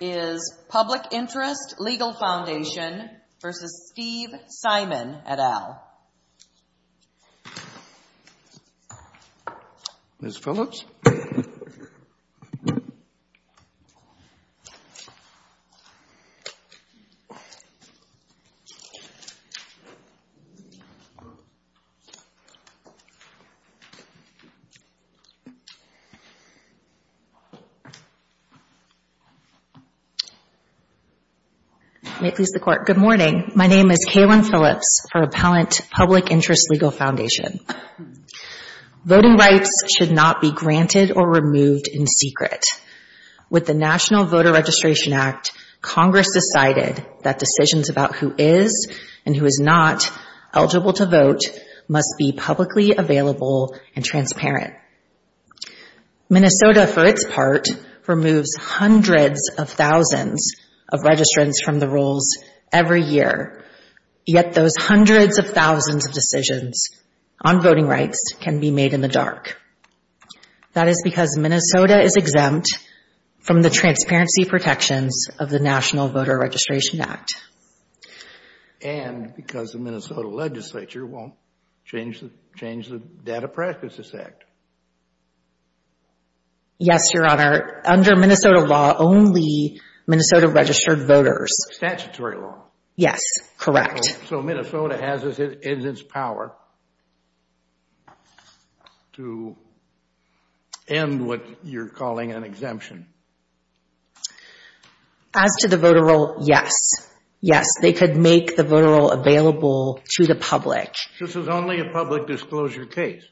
is Public Interest Legal Foundation v. Steve Simon, et al. Ms. Phillips? May it please the Court, good morning. My name is Kaylin Phillips for Appellant Public Interest Legal Foundation. Voting rights should not be granted or removed in secret. With the National Voter Registration Act, Congress decided that decisions about who is and who is not eligible to vote must be publicly available and transparent. Minnesota, for its part, removes hundreds of thousands of registrants from the rolls every year. Yet those hundreds of thousands of decisions on voting rights can be made in the dark. That is because Minnesota is exempt from the transparency protections of the National Voter Registration Act. And because the Minnesota Legislature won't change the Data Practices Act. Yes, Your Honor. Under Minnesota law, only Minnesota registered voters. Statutory law? Yes, correct. So Minnesota has its power to end what you're calling an exemption? As to the voter roll, yes. Yes, they could make the voter roll available to the public. This is only a public disclosure case?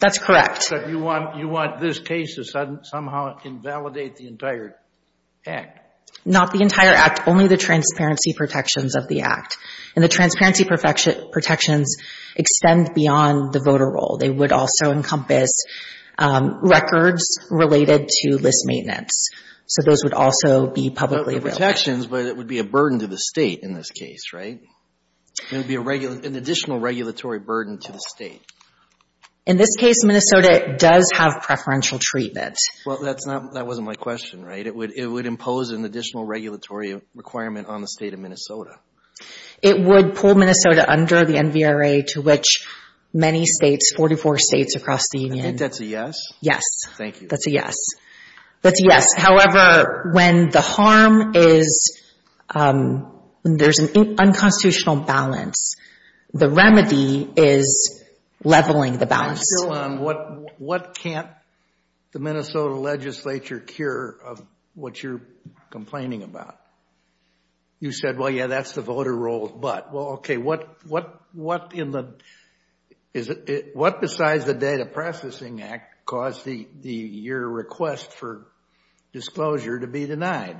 That's correct. So you want this case to somehow invalidate the entire act? Not the entire act, only the transparency protections of the act. And the transparency protections extend beyond the voter roll. They would also encompass records related to list maintenance. So those would also be publicly available. But the protections, but it would be a burden to the State in this case, right? It would be an additional regulatory burden to the State. In this case, Minnesota does have preferential treatment. Well, that's not, that wasn't my question, right? It would impose an additional regulatory requirement on the State of Minnesota. It would pull Minnesota under the NVRA to which many states, 44 states across the Union. I think that's a yes. Yes. Thank you. That's a yes. That's a yes. However, when the harm is, there's an unconstitutional balance. The remedy is leveling the balance. I'm still on what, what can't the Minnesota Legislature cure of what you're complaining about? You said, well, yeah, that's the voter roll, but, well, okay, what, what, what in the, is it, what besides the Data Processing Act caused the, the, your request for disclosure to be denied?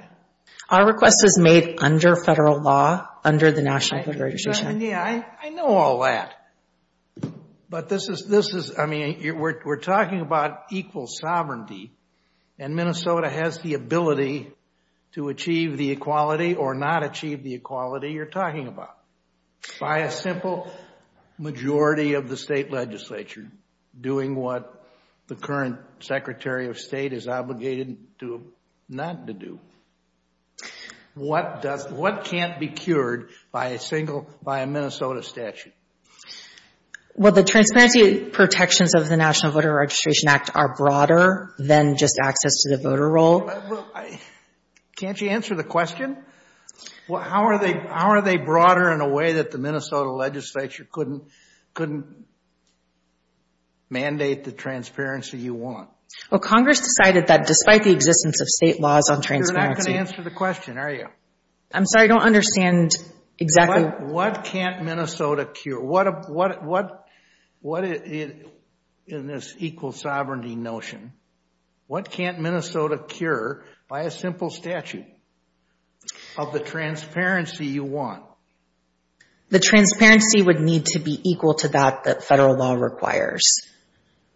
Our request is made under federal law, under the National Voter Registration Act. Yeah, I know all that, but this is, this is, I mean, we're talking about equal sovereignty and Minnesota has the ability to achieve the equality or not achieve the equality you're talking about by a simple majority of the State Legislature doing what the current Secretary of State is obligated to, not to do. What does, what can't be cured by a single, by a Minnesota statute? Well, the transparency protections of the National Voter Registration Act are broader than just access to the voter roll. Can't you answer the question? Well, how are they, how are they broader in a way that the Minnesota Legislature couldn't, couldn't mandate the transparency you want? Congress decided that despite the existence of state laws on transparency... You're not going to answer the question, are you? I'm sorry, I don't understand exactly... What can't Minnesota cure? What, what, what, what in this equal sovereignty notion, what can't Minnesota cure by a simple statute of the transparency you want? The transparency would need to be equal to that that federal law requires.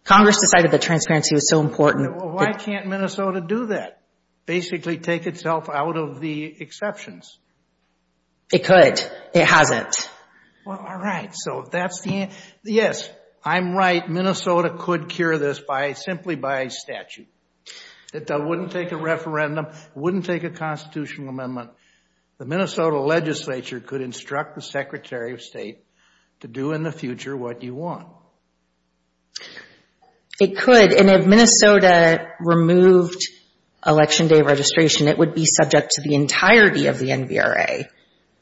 Congress decided the transparency was so important... Well, why can't Minnesota do that? Basically take itself out of the exceptions? It could. It hasn't. Well, all right. So that's the answer. Yes, I'm right. Minnesota could cure this by, simply by statute. It wouldn't take a referendum, wouldn't take a constitutional amendment. The Minnesota Legislature could instruct the Secretary of State to do in the future what you want. It could. And if Minnesota removed election day registration, it would be subject to the entirety of the NVRA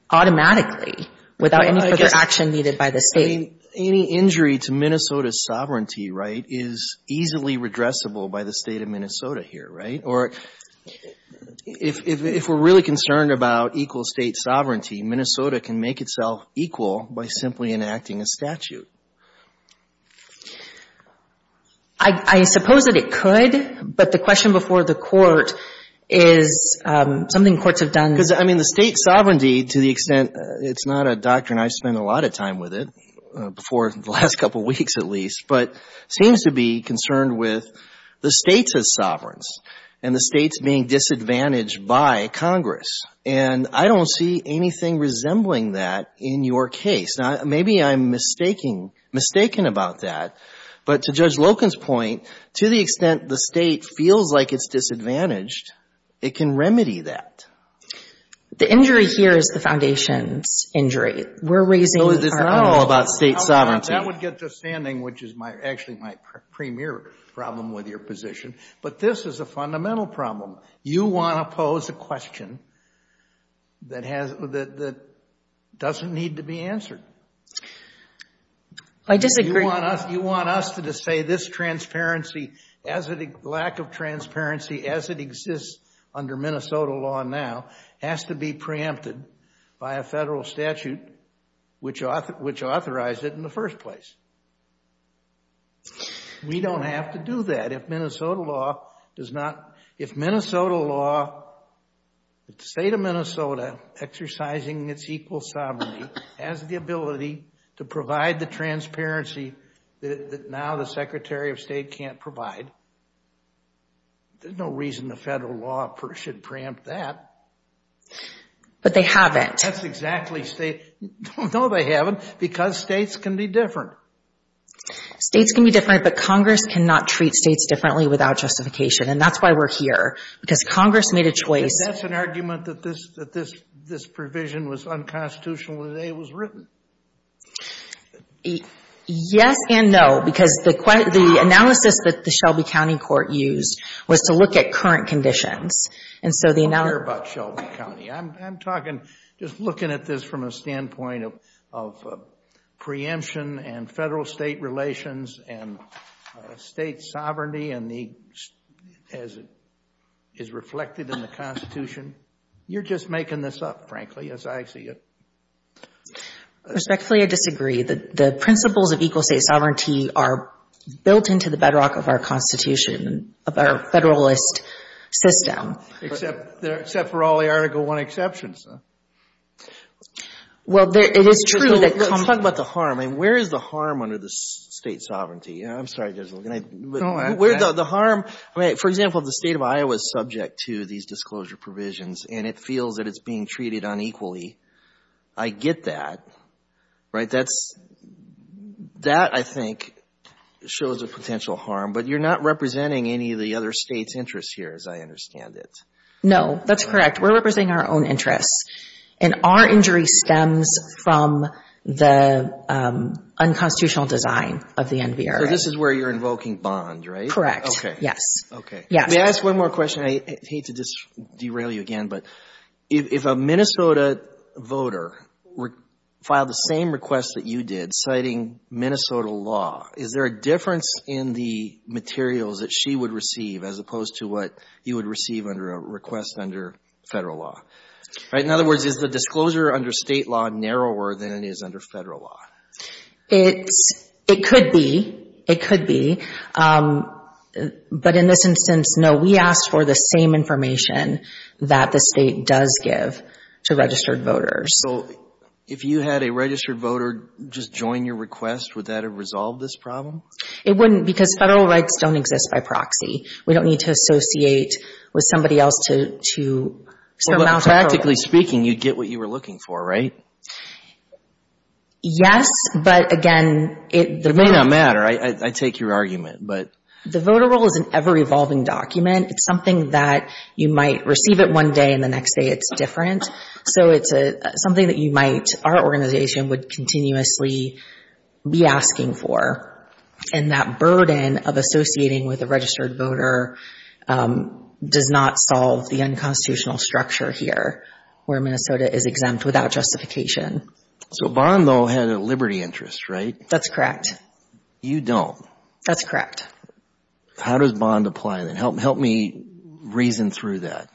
automatically without any further action needed by the state. Any injury to Minnesota's sovereignty, right, is easily redressable by the state of Minnesota here, right? Or if, if, if we're really concerned about equal state sovereignty, Minnesota can make itself equal by simply enacting a statute. I suppose that it could, but the question before the Court is something courts have done... Because, I mean, the state sovereignty, to the extent, it's not a doctrine I've spent a lot of time with it, before the last couple of weeks at least, but seems to be concerned with the state's sovereigns and the state's being disadvantaged by Congress. And I don't see anything resembling that in your case. Now, maybe I'm mistaking, mistaken about that. But to Judge Loken's point, to the extent the state feels like it's disadvantaged, it can remedy that. The injury here is the foundation's injury. We're raising our own. So it's not all about state sovereignty. That would get to standing, which is my, actually my premier problem with your position. But this is a fundamental problem. You want to pose a question that has, that doesn't need to be answered. I disagree. You want us, you want us to say this transparency, as it, lack of transparency, as it exists under Minnesota law now, has to be preempted by a federal statute, which, which authorized it in the first place. We don't have to do that. If Minnesota law does not, if Minnesota law, the state of Minnesota exercising its equal sovereignty, has the ability to provide the transparency that now the Secretary of State can't provide, there's no reason the federal law should preempt that. But they haven't. That's exactly state, no they haven't, because states can be different. States can be different, but Congress cannot treat states differently without justification. And that's why we're here. Because Congress made a choice. Is that an argument that this, that this, this provision was unconstitutional when it was written? Yes and no. Because the analysis that the Shelby County Court used was to look at current conditions. And so the analysis. I don't care about Shelby County. I'm, I'm talking, just looking at this from a standpoint of, of preemption and federal state relations and state sovereignty and the, as it is reflected in the Constitution. You're just making this up, frankly, as I see it. Respectfully, I disagree. The, the principles of equal state sovereignty are built into the bedrock of our Constitution, of our Federalist system. Except, except for all the Article I exceptions. Well, there, it is true that. Let's talk about the harm. I mean, where is the harm under the state sovereignty? I'm sorry, Judge, can I. Go on. Where the, the harm. I mean, for example, if the state of Iowa is subject to these disclosure provisions and it feels that it's being treated unequally, I get that. Right? That's, that I think shows a potential harm. But you're not representing any of the other states' interests here, as I understand it. No, that's correct. We're representing our own interests. And our injury stems from the unconstitutional design of the NVRA. So this is where you're invoking bond, right? Correct. Yes. Okay. Yes. May I ask one more question? I hate to derail you again, but if, if a Minnesota voter filed the same request that you did, citing Minnesota law, is there a difference in the materials that she would receive as opposed to what you would receive under a request under federal law? Right? In other words, is the disclosure under state law narrower than it is under federal law? It's, it could be. It could be. But in this instance, no. We asked for the same information that the state does give to registered voters. So if you had a registered voter just join your request, would that have resolved this problem? It wouldn't because federal rights don't exist by proxy. We don't need to associate with somebody else to, to surmount a problem. Practically speaking, you'd get what you were looking for, right? Yes, but again, it... It may not matter. I take your argument, but... The voter roll is an ever-evolving document. It's something that you might receive it one day and the next day it's different. So it's something that you might, our organization would continuously be asking for. And that burden of associating with a registered voter does not solve the unconstitutional structure here where Minnesota is exempt without justification. So Bond though had a liberty interest, right? That's correct. You don't. That's correct. How does Bond apply then? Help, help me reason through that.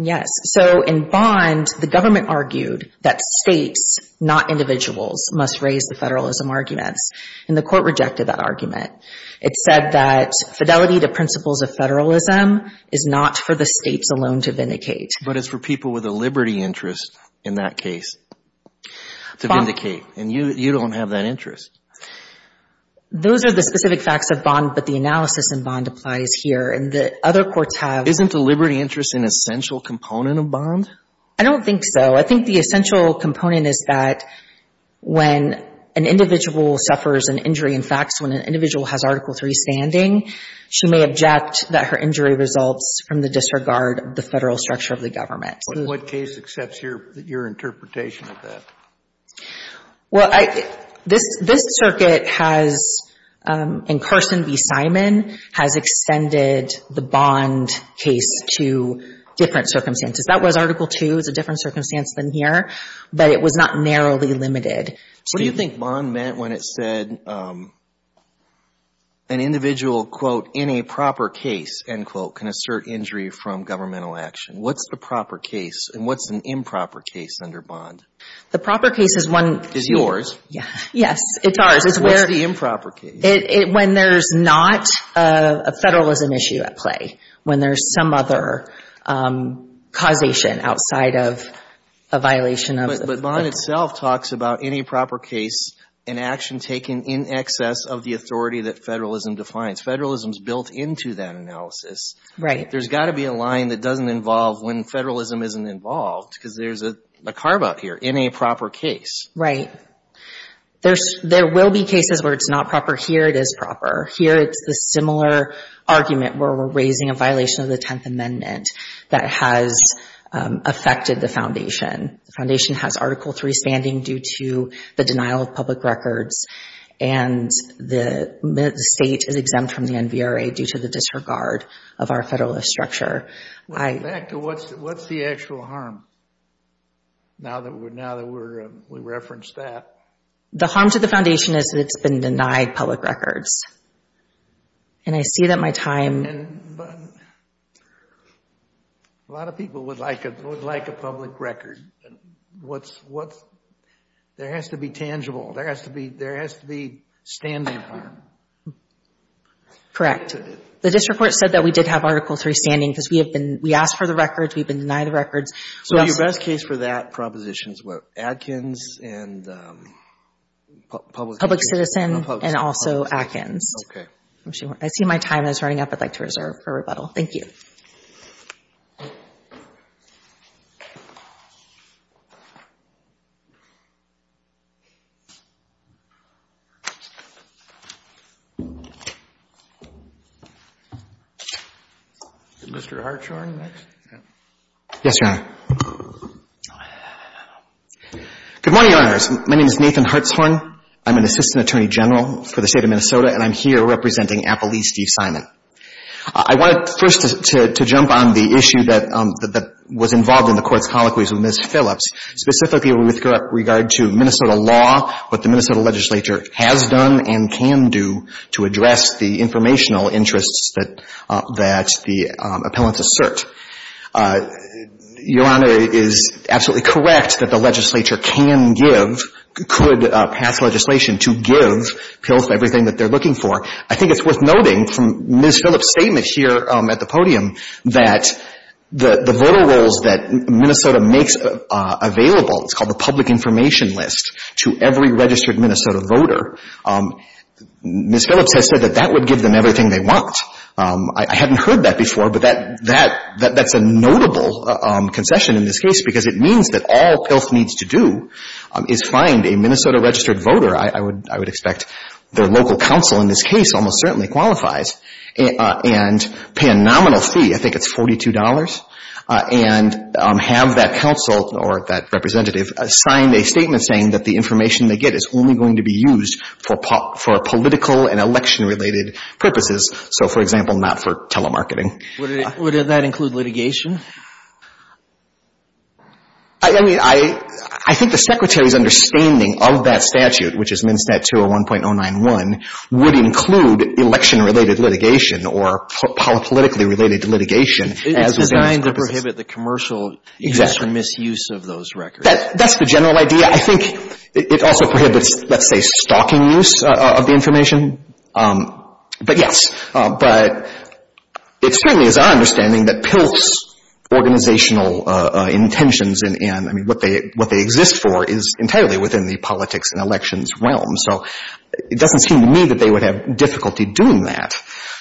Yes. So in Bond, the government argued that states, not individuals, must raise the federalism arguments and the court rejected that argument. It said that fidelity to principles of federalism is not for the states alone to vindicate. But it's for people with a liberty interest in that case to vindicate. And you, you don't have that interest. Those are the specific facts of Bond, but the analysis in Bond applies here and the other courts have... Isn't the liberty interest an essential component of Bond? I don't think so. I think the essential component is that when an individual suffers an injury in FACTS, when an individual has Article III standing, she may object that her injury results from the disregard of the federal structure of the government. What case accepts your interpretation of that? Well, I, this, this circuit has, in Carson v. Simon, has extended the Bond case to different circumstances. That was Article II, it's a different circumstance than here, but it was not narrowly limited. What do you think Bond meant when it said an individual, quote, in a proper case, end quote, can assert injury from governmental action? What's the proper case and what's an improper case under Bond? The proper case is one... Is yours. Yes, it's ours. What's the improper case? When there's not a federalism issue at play, when there's some other causation outside of a violation of... But Bond itself talks about any proper case, an action taken in excess of the authority that federalism defines. Federalism's built into that analysis. Right. There's got to be a line that doesn't involve when federalism isn't involved, because there's a carve-out here, in a proper case. Right. There will be cases where it's not proper. Here it is proper. Here it's the similar argument where we're raising a violation of the Tenth Amendment that has affected the foundation. The foundation has Article III standing due to the denial of public records and the state is exempt from the NVRA due to the disregard of our federalist structure. Back to what's the actual harm, now that we referenced that? The harm to the foundation is that it's been denied public records. I see that my time... A lot of people would like a public record. There has to be tangible. There has to be standing harm. Correct. The district court said that we did have Article III standing because we asked for the records. We've been denied the records. So your best case for that proposition is Adkins and public... Public Citizen and also Adkins. Okay. I see my time is running up. I'd like to reserve for rebuttal. Thank you. Is Mr. Hartshorn next? Yes, Your Honor. Good morning, Your Honors. My name is Nathan Hartshorn. I'm an Assistant Attorney General for the State of Minnesota and I'm here representing Appalachee Steve Simon. I wanted first to jump on the issue that was involved in the Court's colloquies with Ms. Phillips, specifically with regard to Minnesota law, what the Minnesota legislature has done and can do to address the informational interests that the appellants assert. Your Honor is absolutely correct that the legislature can give, could pass legislation to give PILF everything that they're looking for. I think it's worth noting from Ms. Phillips' statement here at the podium that the voter rolls that Minnesota makes available, it's called the public information list, to every registered Minnesota voter, Ms. Phillips has said that that would give them everything they want. I hadn't heard that before, but that's a notable concession in this case because it means that all PILF needs to do is find a Minnesota registered voter, I would expect their local council in this case almost certainly qualifies, and pay a nominal fee, I think it's $42, and have that council or that representative sign a statement saying that the information they get is only going to be used for political and election-related purposes, so for example, not for telemarketing. Would that include litigation? I mean, I think the Secretary's understanding of that statute, which is MnSTAT 201.091, would include election-related litigation or politically-related litigation as a business It's designed to prohibit the commercial use and misuse of those records. That's the general idea. I think it also prohibits, let's say, stalking use of the information, but yes. But it certainly is our understanding that PILFs, and I'm not talking about organizational intentions, I mean, what they exist for is entirely within the politics and elections realm, so it doesn't seem to me that they would have difficulty doing that.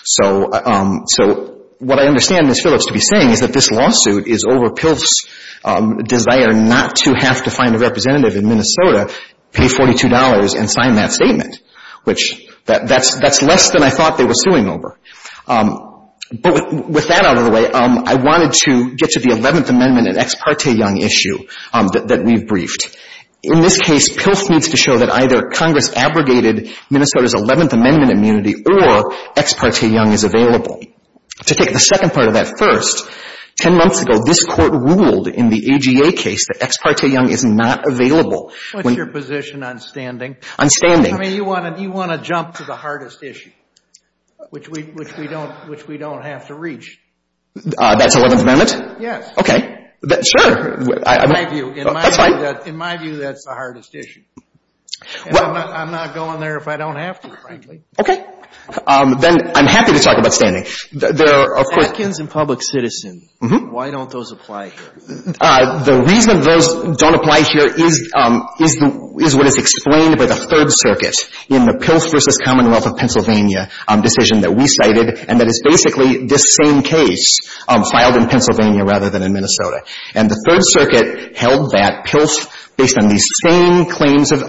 So what I understand Ms. Phillips to be saying is that this lawsuit is over PILF's desire not to have to find a representative in Minnesota, pay $42, and sign that statement, which that's less than I thought they were suing over. But with that out of the way, I wanted to get to the 11th Amendment and Ex Parte Young issue that we've briefed. In this case, PILF needs to show that either Congress abrogated Minnesota's 11th Amendment immunity or Ex Parte Young is available. To take the second part of that first, 10 months ago, this Court ruled in the AGA case that Ex Parte Young is not available. What's your position on standing? On standing. You want to jump to the hardest issue, which we don't have to reach. That's 11th Amendment? Yes. Okay. Sure. In my view, that's the hardest issue. I'm not going there if I don't have to, frankly. Okay. Then I'm happy to talk about standing. For Atkins and public citizen, why don't those apply here? The reason those don't apply here is what is explained by the Third Circuit in the PILF v. Commonwealth of Pennsylvania decision that we cited, and that is basically this same case filed in Pennsylvania rather than in Minnesota. And the Third Circuit held that PILF, based on these same claims of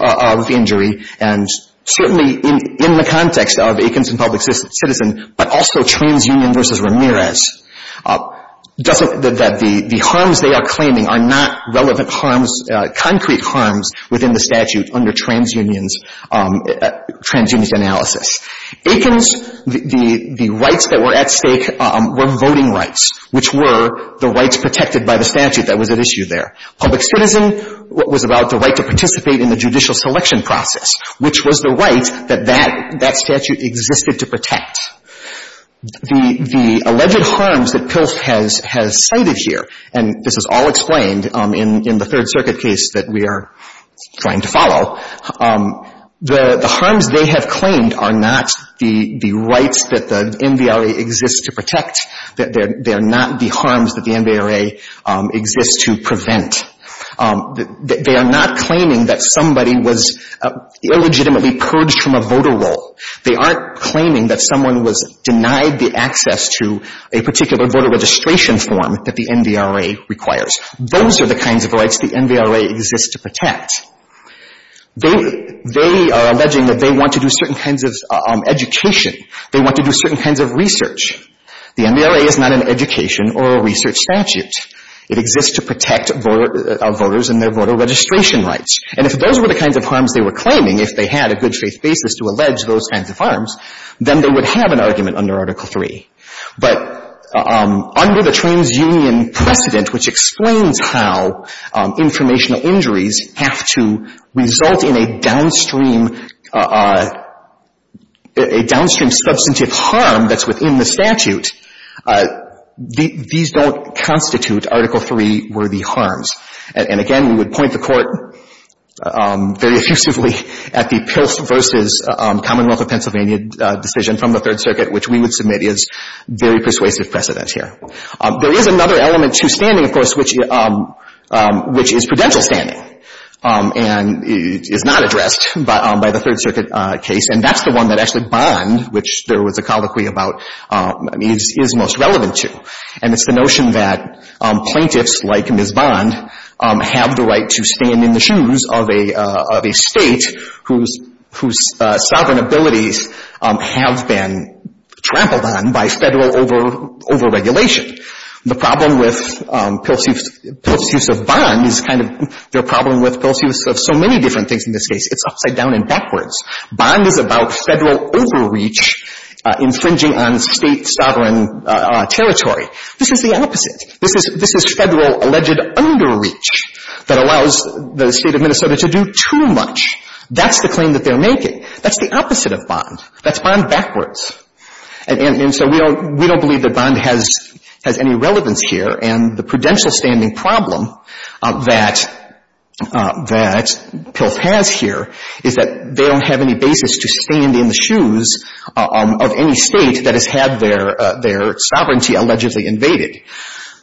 injury, and certainly in the context of Atkins and public citizen, but also TransUnion v. Ramirez, that the harms they are claiming are not relevant harms, concrete harms, within the statute under TransUnion's analysis. Atkins, the rights that were at stake were voting rights, which were the rights protected by the statute that was at issue there. Public citizen was about the right to participate in the judicial selection process, which was the right that that statute existed to protect. The alleged harms that PILF has cited here, and this is all explained in the Third Circuit case that we are trying to follow, the harms they have claimed are not the rights that the NVRA exists to protect. They are not the harms that the NVRA exists to prevent. They are not claiming that somebody was illegitimately purged from a voter roll. They aren't claiming that someone was denied the access to a particular voter registration form that the NVRA requires. Those are the kinds of rights the NVRA exists to protect. They are alleging that they want to do certain kinds of education. They want to do certain kinds of research. The NVRA is not an education or a research statute. It exists to protect voters and their voter registration rights. And if those were the kinds of harms they were claiming, if they had a good-faith basis to allege those kinds of harms, then they would have an argument under Article III. But under the Transunion precedent, which explains how informational injuries have to result in a downstream, a downstream substantive harm that's within the statute, these don't constitute Article III-worthy harms. And again, we would point the Court very effusively at the PILF versus Commonwealth of Pennsylvania decision from the Third Circuit, which we would submit is very persuasive precedent here. There is another element to standing, of course, which is prudential standing and is not addressed by the Third Circuit case. And that's the one that actually Bond, which there was a colloquy about, is most relevant to. And it's the notion that plaintiffs, like Ms. Bond, have the right to stand in the shoes of a state whose sovereign abilities have been trampled on by federal overregulation. The problem with PILF's use of Bond is kind of their problem with PILF's use of so many different things in this case. It's upside down and backwards. Bond is about federal overreach infringing on state sovereign territory. This is the opposite. This is, this is federal alleged underreach that allows the State of Minnesota to do too much. That's the claim that they're making. That's the opposite of Bond. That's Bond backwards. And so we don't, we don't believe that Bond has, has any relevance here. And the prudential standing problem that, that PILF has here is that they don't have any basis to stand in the shoes of any state that has had their, their sovereignty allegedly invaded.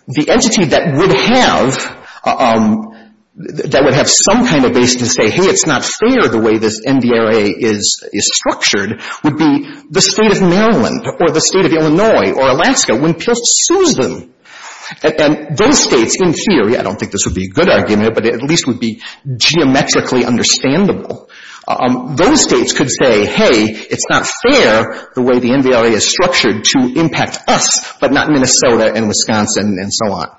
The entity that would have, that would have some kind of basis to say, hey, it's not fair the way this NDRA is, is structured would be the State of Maryland or the State of Illinois or Alaska when PILF sues them. And those states, in theory, I don't think this would be a good argument, but it at least would be geometrically understandable. Those states could say, hey, it's not fair the way the NDRA is structured to impact us, but not Minnesota and Wisconsin and so on.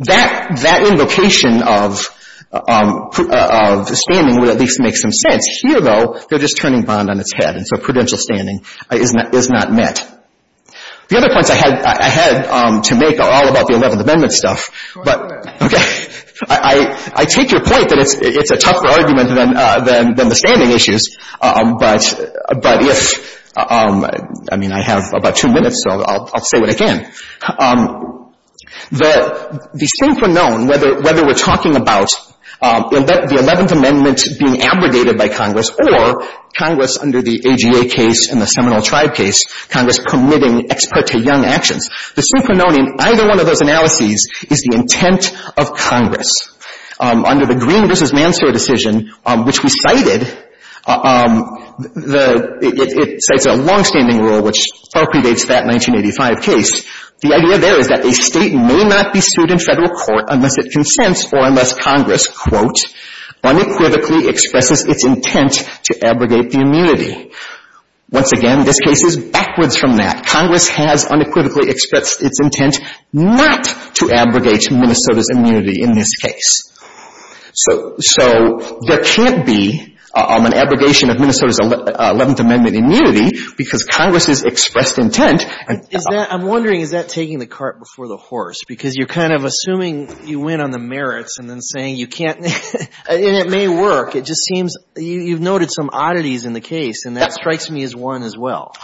That, that invocation of, of standing would at least make some sense. Here, though, they're just turning Bond on its head, and so prudential standing is not, is not met. The other points I had, I had to make are all about the 11th Amendment stuff, but, okay, I, I take your point that it's, it's a tougher argument than, than, than the standing issues, but, but if, I mean, I have about two minutes, so I'll, I'll say it again. The, the synchronon, whether, whether we're talking about the 11th Amendment being abrogated by Congress or Congress under the AGA case and the Seminole Tribe case, Congress committing ex parte young actions, the synchronon in either one of those analyses is the intent of Congress. Under the Green v. Mansour decision, which we cited, the, it, it cites a longstanding rule which far predates that 1985 case. The idea there is that a state may not be sued in federal court unless it consents or unless Congress, quote, unequivocally expresses its intent to abrogate the immunity. Once again, this case is backwards from that. Congress has unequivocally expressed its intent not to abrogate Minnesota's immunity in this case. So, so there can't be an abrogation of Minnesota's 11th Amendment immunity because Congress's expressed intent. Is that, I'm wondering, is that taking the cart before the horse? Because you're kind of assuming you win on the merits and then saying you can't, and it may work. It just seems you, you've noted some oddities in the case and that strikes me as one as well.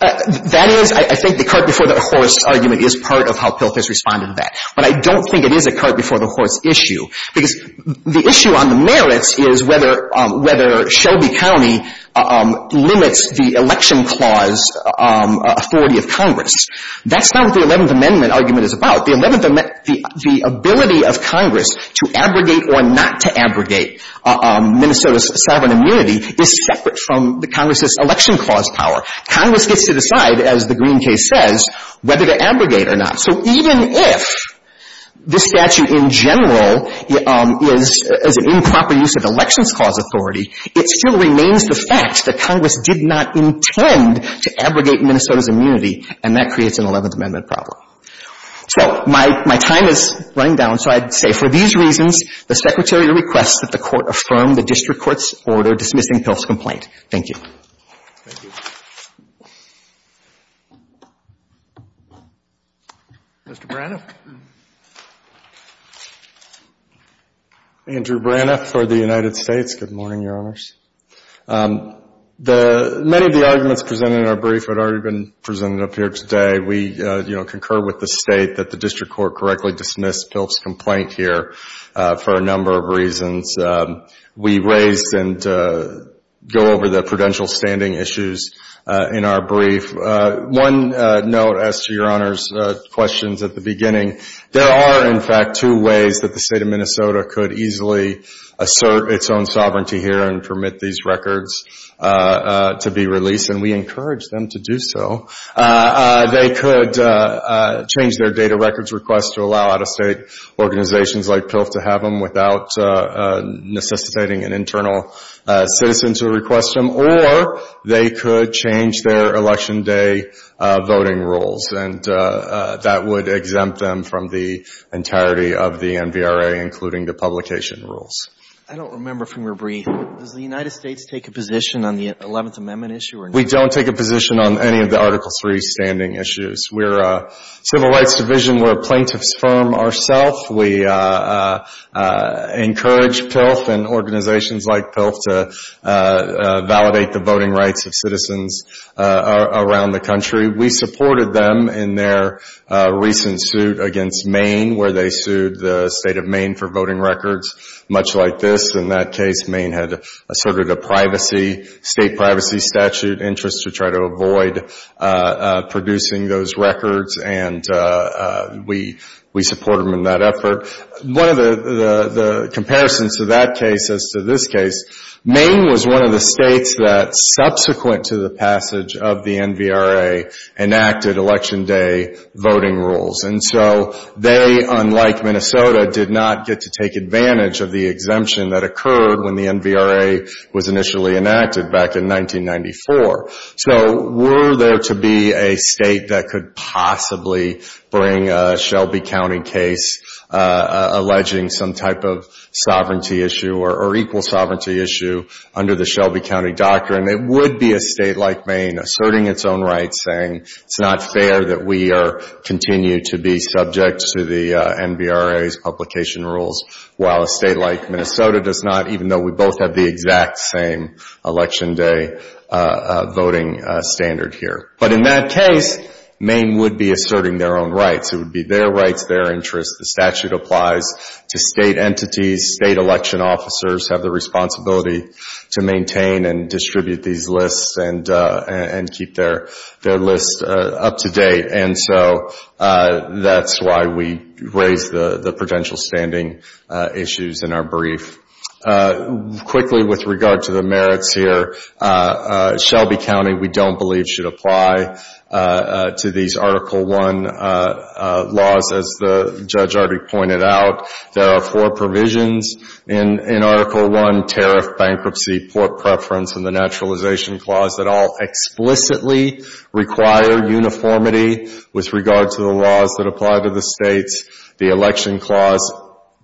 That is, I think the cart before the horse argument is part of how Pilka's responded to that. But I don't think it is a cart before the horse issue because the issue on the merits is whether, whether Shelby County limits the election clause authority of Congress. That's not what the 11th Amendment argument is about. The 11th Amendment, the, the ability of Congress to abrogate or not to abrogate Minnesota's sovereign immunity is separate from the Congress's election clause power. Congress gets to decide, as the Green case says, whether to abrogate or not. So even if this statute in general is, is an improper use of elections clause authority, it still remains the fact that Congress did not intend to abrogate Minnesota's immunity, and that creates an 11th Amendment problem. So my, my time is running down, so I'd say for these reasons, the Secretary requests that the Court affirm the District Court's order dismissing Pilka's complaint. Thank you. Thank you. Mr. Braniff. Andrew Braniff for the United States. Good morning, Your Honors. The, many of the arguments presented in our brief had already been presented up here today. We, you know, concur with the state that the District Court correctly dismissed Pilka's complaint here for a number of reasons. We raised and go over the prudential standing issues in our brief. One note, as to Your Honors' questions at the beginning, there are, in fact, two ways that the State of Minnesota could easily assert its own sovereignty here and permit these records to be released, and we encourage them to do so. They could change their data records request to allow out-of-state organizations like PILF to have them without necessitating an internal citizen to request them, or they could change their Election Day voting rules, and that would exempt them from the entirety of the NVRA, including the publication rules. I don't remember from your brief. Does the United States take a position on the 11th Amendment issue or not? We don't take a position on any of the Article III standing issues. We're a civil rights division. We're a plaintiff's firm ourselves. We encourage PILF and organizations like PILF to validate the voting rights of citizens around the country. We supported them in their recent suit against Maine, where they sued the State of Maine for voting records, much like this. In that case, Maine had asserted a state privacy statute interest to try to avoid producing those records, and we supported them in that effort. One of the comparisons to that case as to this case, Maine was one of the states that, subsequent to the passage of the NVRA, enacted Election Day voting rules, and so they, unlike Maine, took advantage of the exemption that occurred when the NVRA was initially enacted back in 1994. So were there to be a state that could possibly bring a Shelby County case alleging some type of sovereignty issue or equal sovereignty issue under the Shelby County Doctrine, it would be a state like Maine asserting its own rights, saying it's not fair that we continue to be subject to the NVRA's publication rules, while a state like Minnesota does not, even though we both have the exact same Election Day voting standard here. But in that case, Maine would be asserting their own rights. It would be their rights, their interests. The statute applies to state entities. State election officers have the responsibility to maintain and distribute these lists and keep their lists up to date, and so that's why we raised the prudential standing issues in our brief. Quickly with regard to the merits here, Shelby County, we don't believe, should apply to these Article I laws. As the judge already pointed out, there are four provisions in Article I, tariff, bankruptcy, port preference, and the naturalization clause that all explicitly require uniformity with regard to the laws that apply to the states. The election clause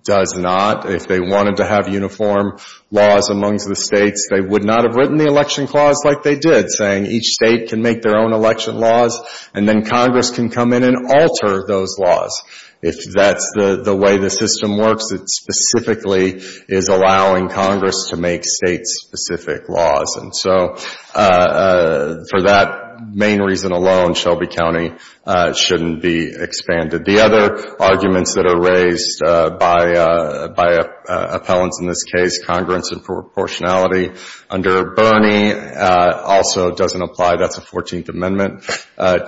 does not. If they wanted to have uniform laws amongst the states, they would not have written the election clause like they did, saying each state can make their own election laws, and then Congress can come in and alter those laws. If that's the way the system works, it specifically is allowing Congress to make state-specific laws. And so for that main reason alone, Shelby County shouldn't be expanded. The other arguments that are raised by appellants in this case, congruence and proportionality under Bernie also doesn't apply. That's a 14th Amendment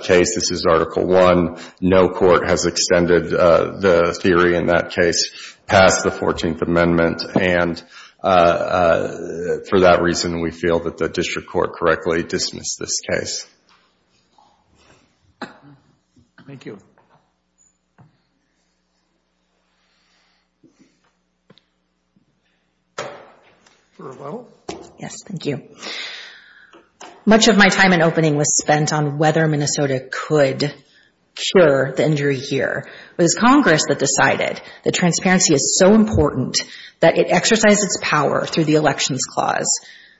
case. This is Article I. No theory in that case passed the 14th Amendment. And for that reason, we feel that the district court correctly dismissed this case. Much of my time in opening was spent on whether Minnesota could cure the injury here. It was Congress that decided that transparency is so important that it exercised its power through the elections clause.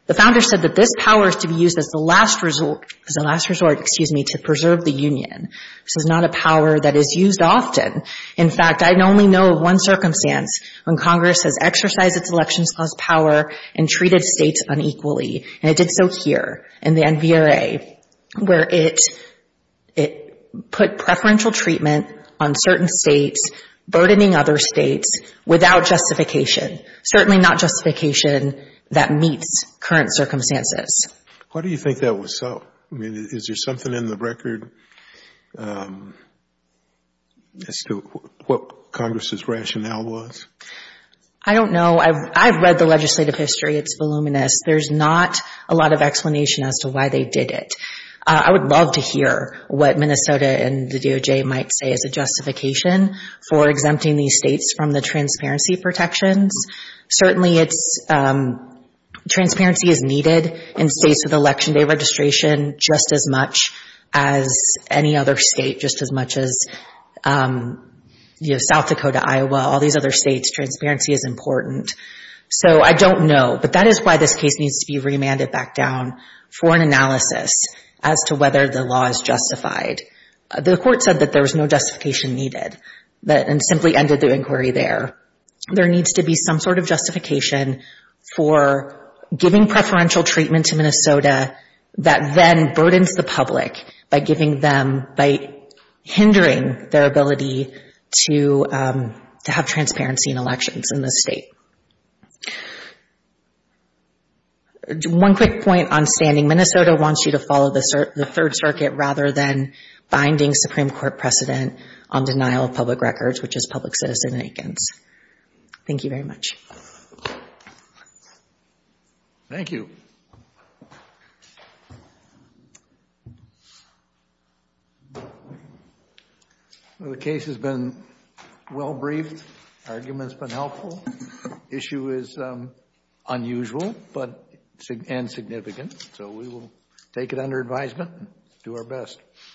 The founder said that this power is to be used as the last resort to preserve the union. This is not a power that is used often. In fact, I only know of one circumstance when Congress has exercised its elections clause power and treated states unequally, and it did so here in the NVRA, where it put preferential treatment on certain states, burdening other states without justification, certainly not justification that meets current circumstances. Why do you think that was so? I mean, is there something in the record as to what Congress' rationale was? I don't know. I've read the legislative history. It's voluminous. There's not a lot of explanation as to why they did it. I would love to hear what Minnesota and the DOJ might say as a justification for exempting these states from the transparency protections. Certainly, transparency is needed in states with election day registration just as much as any other state, just as much as South Dakota, Iowa, all these other states. Transparency is important. So I don't know. But that is why this case needs to be remanded back down for an analysis as to whether the law is justified. The court said that there was no justification needed and simply ended the inquiry there. There needs to be some sort of justification for giving preferential treatment to Minnesota that then burdens the public by hindering their ability to have transparency in elections in this state. One quick point on standing. Minnesota wants you to follow the Third Circuit rather than binding Supreme Court precedent on denial of public records, which is public citizen in Eakins. Thank you very much. Thank you. Well, the case has been well briefed. The argument has been helpful. Issue is unusual and significant. So we will take it under advisement and do our best.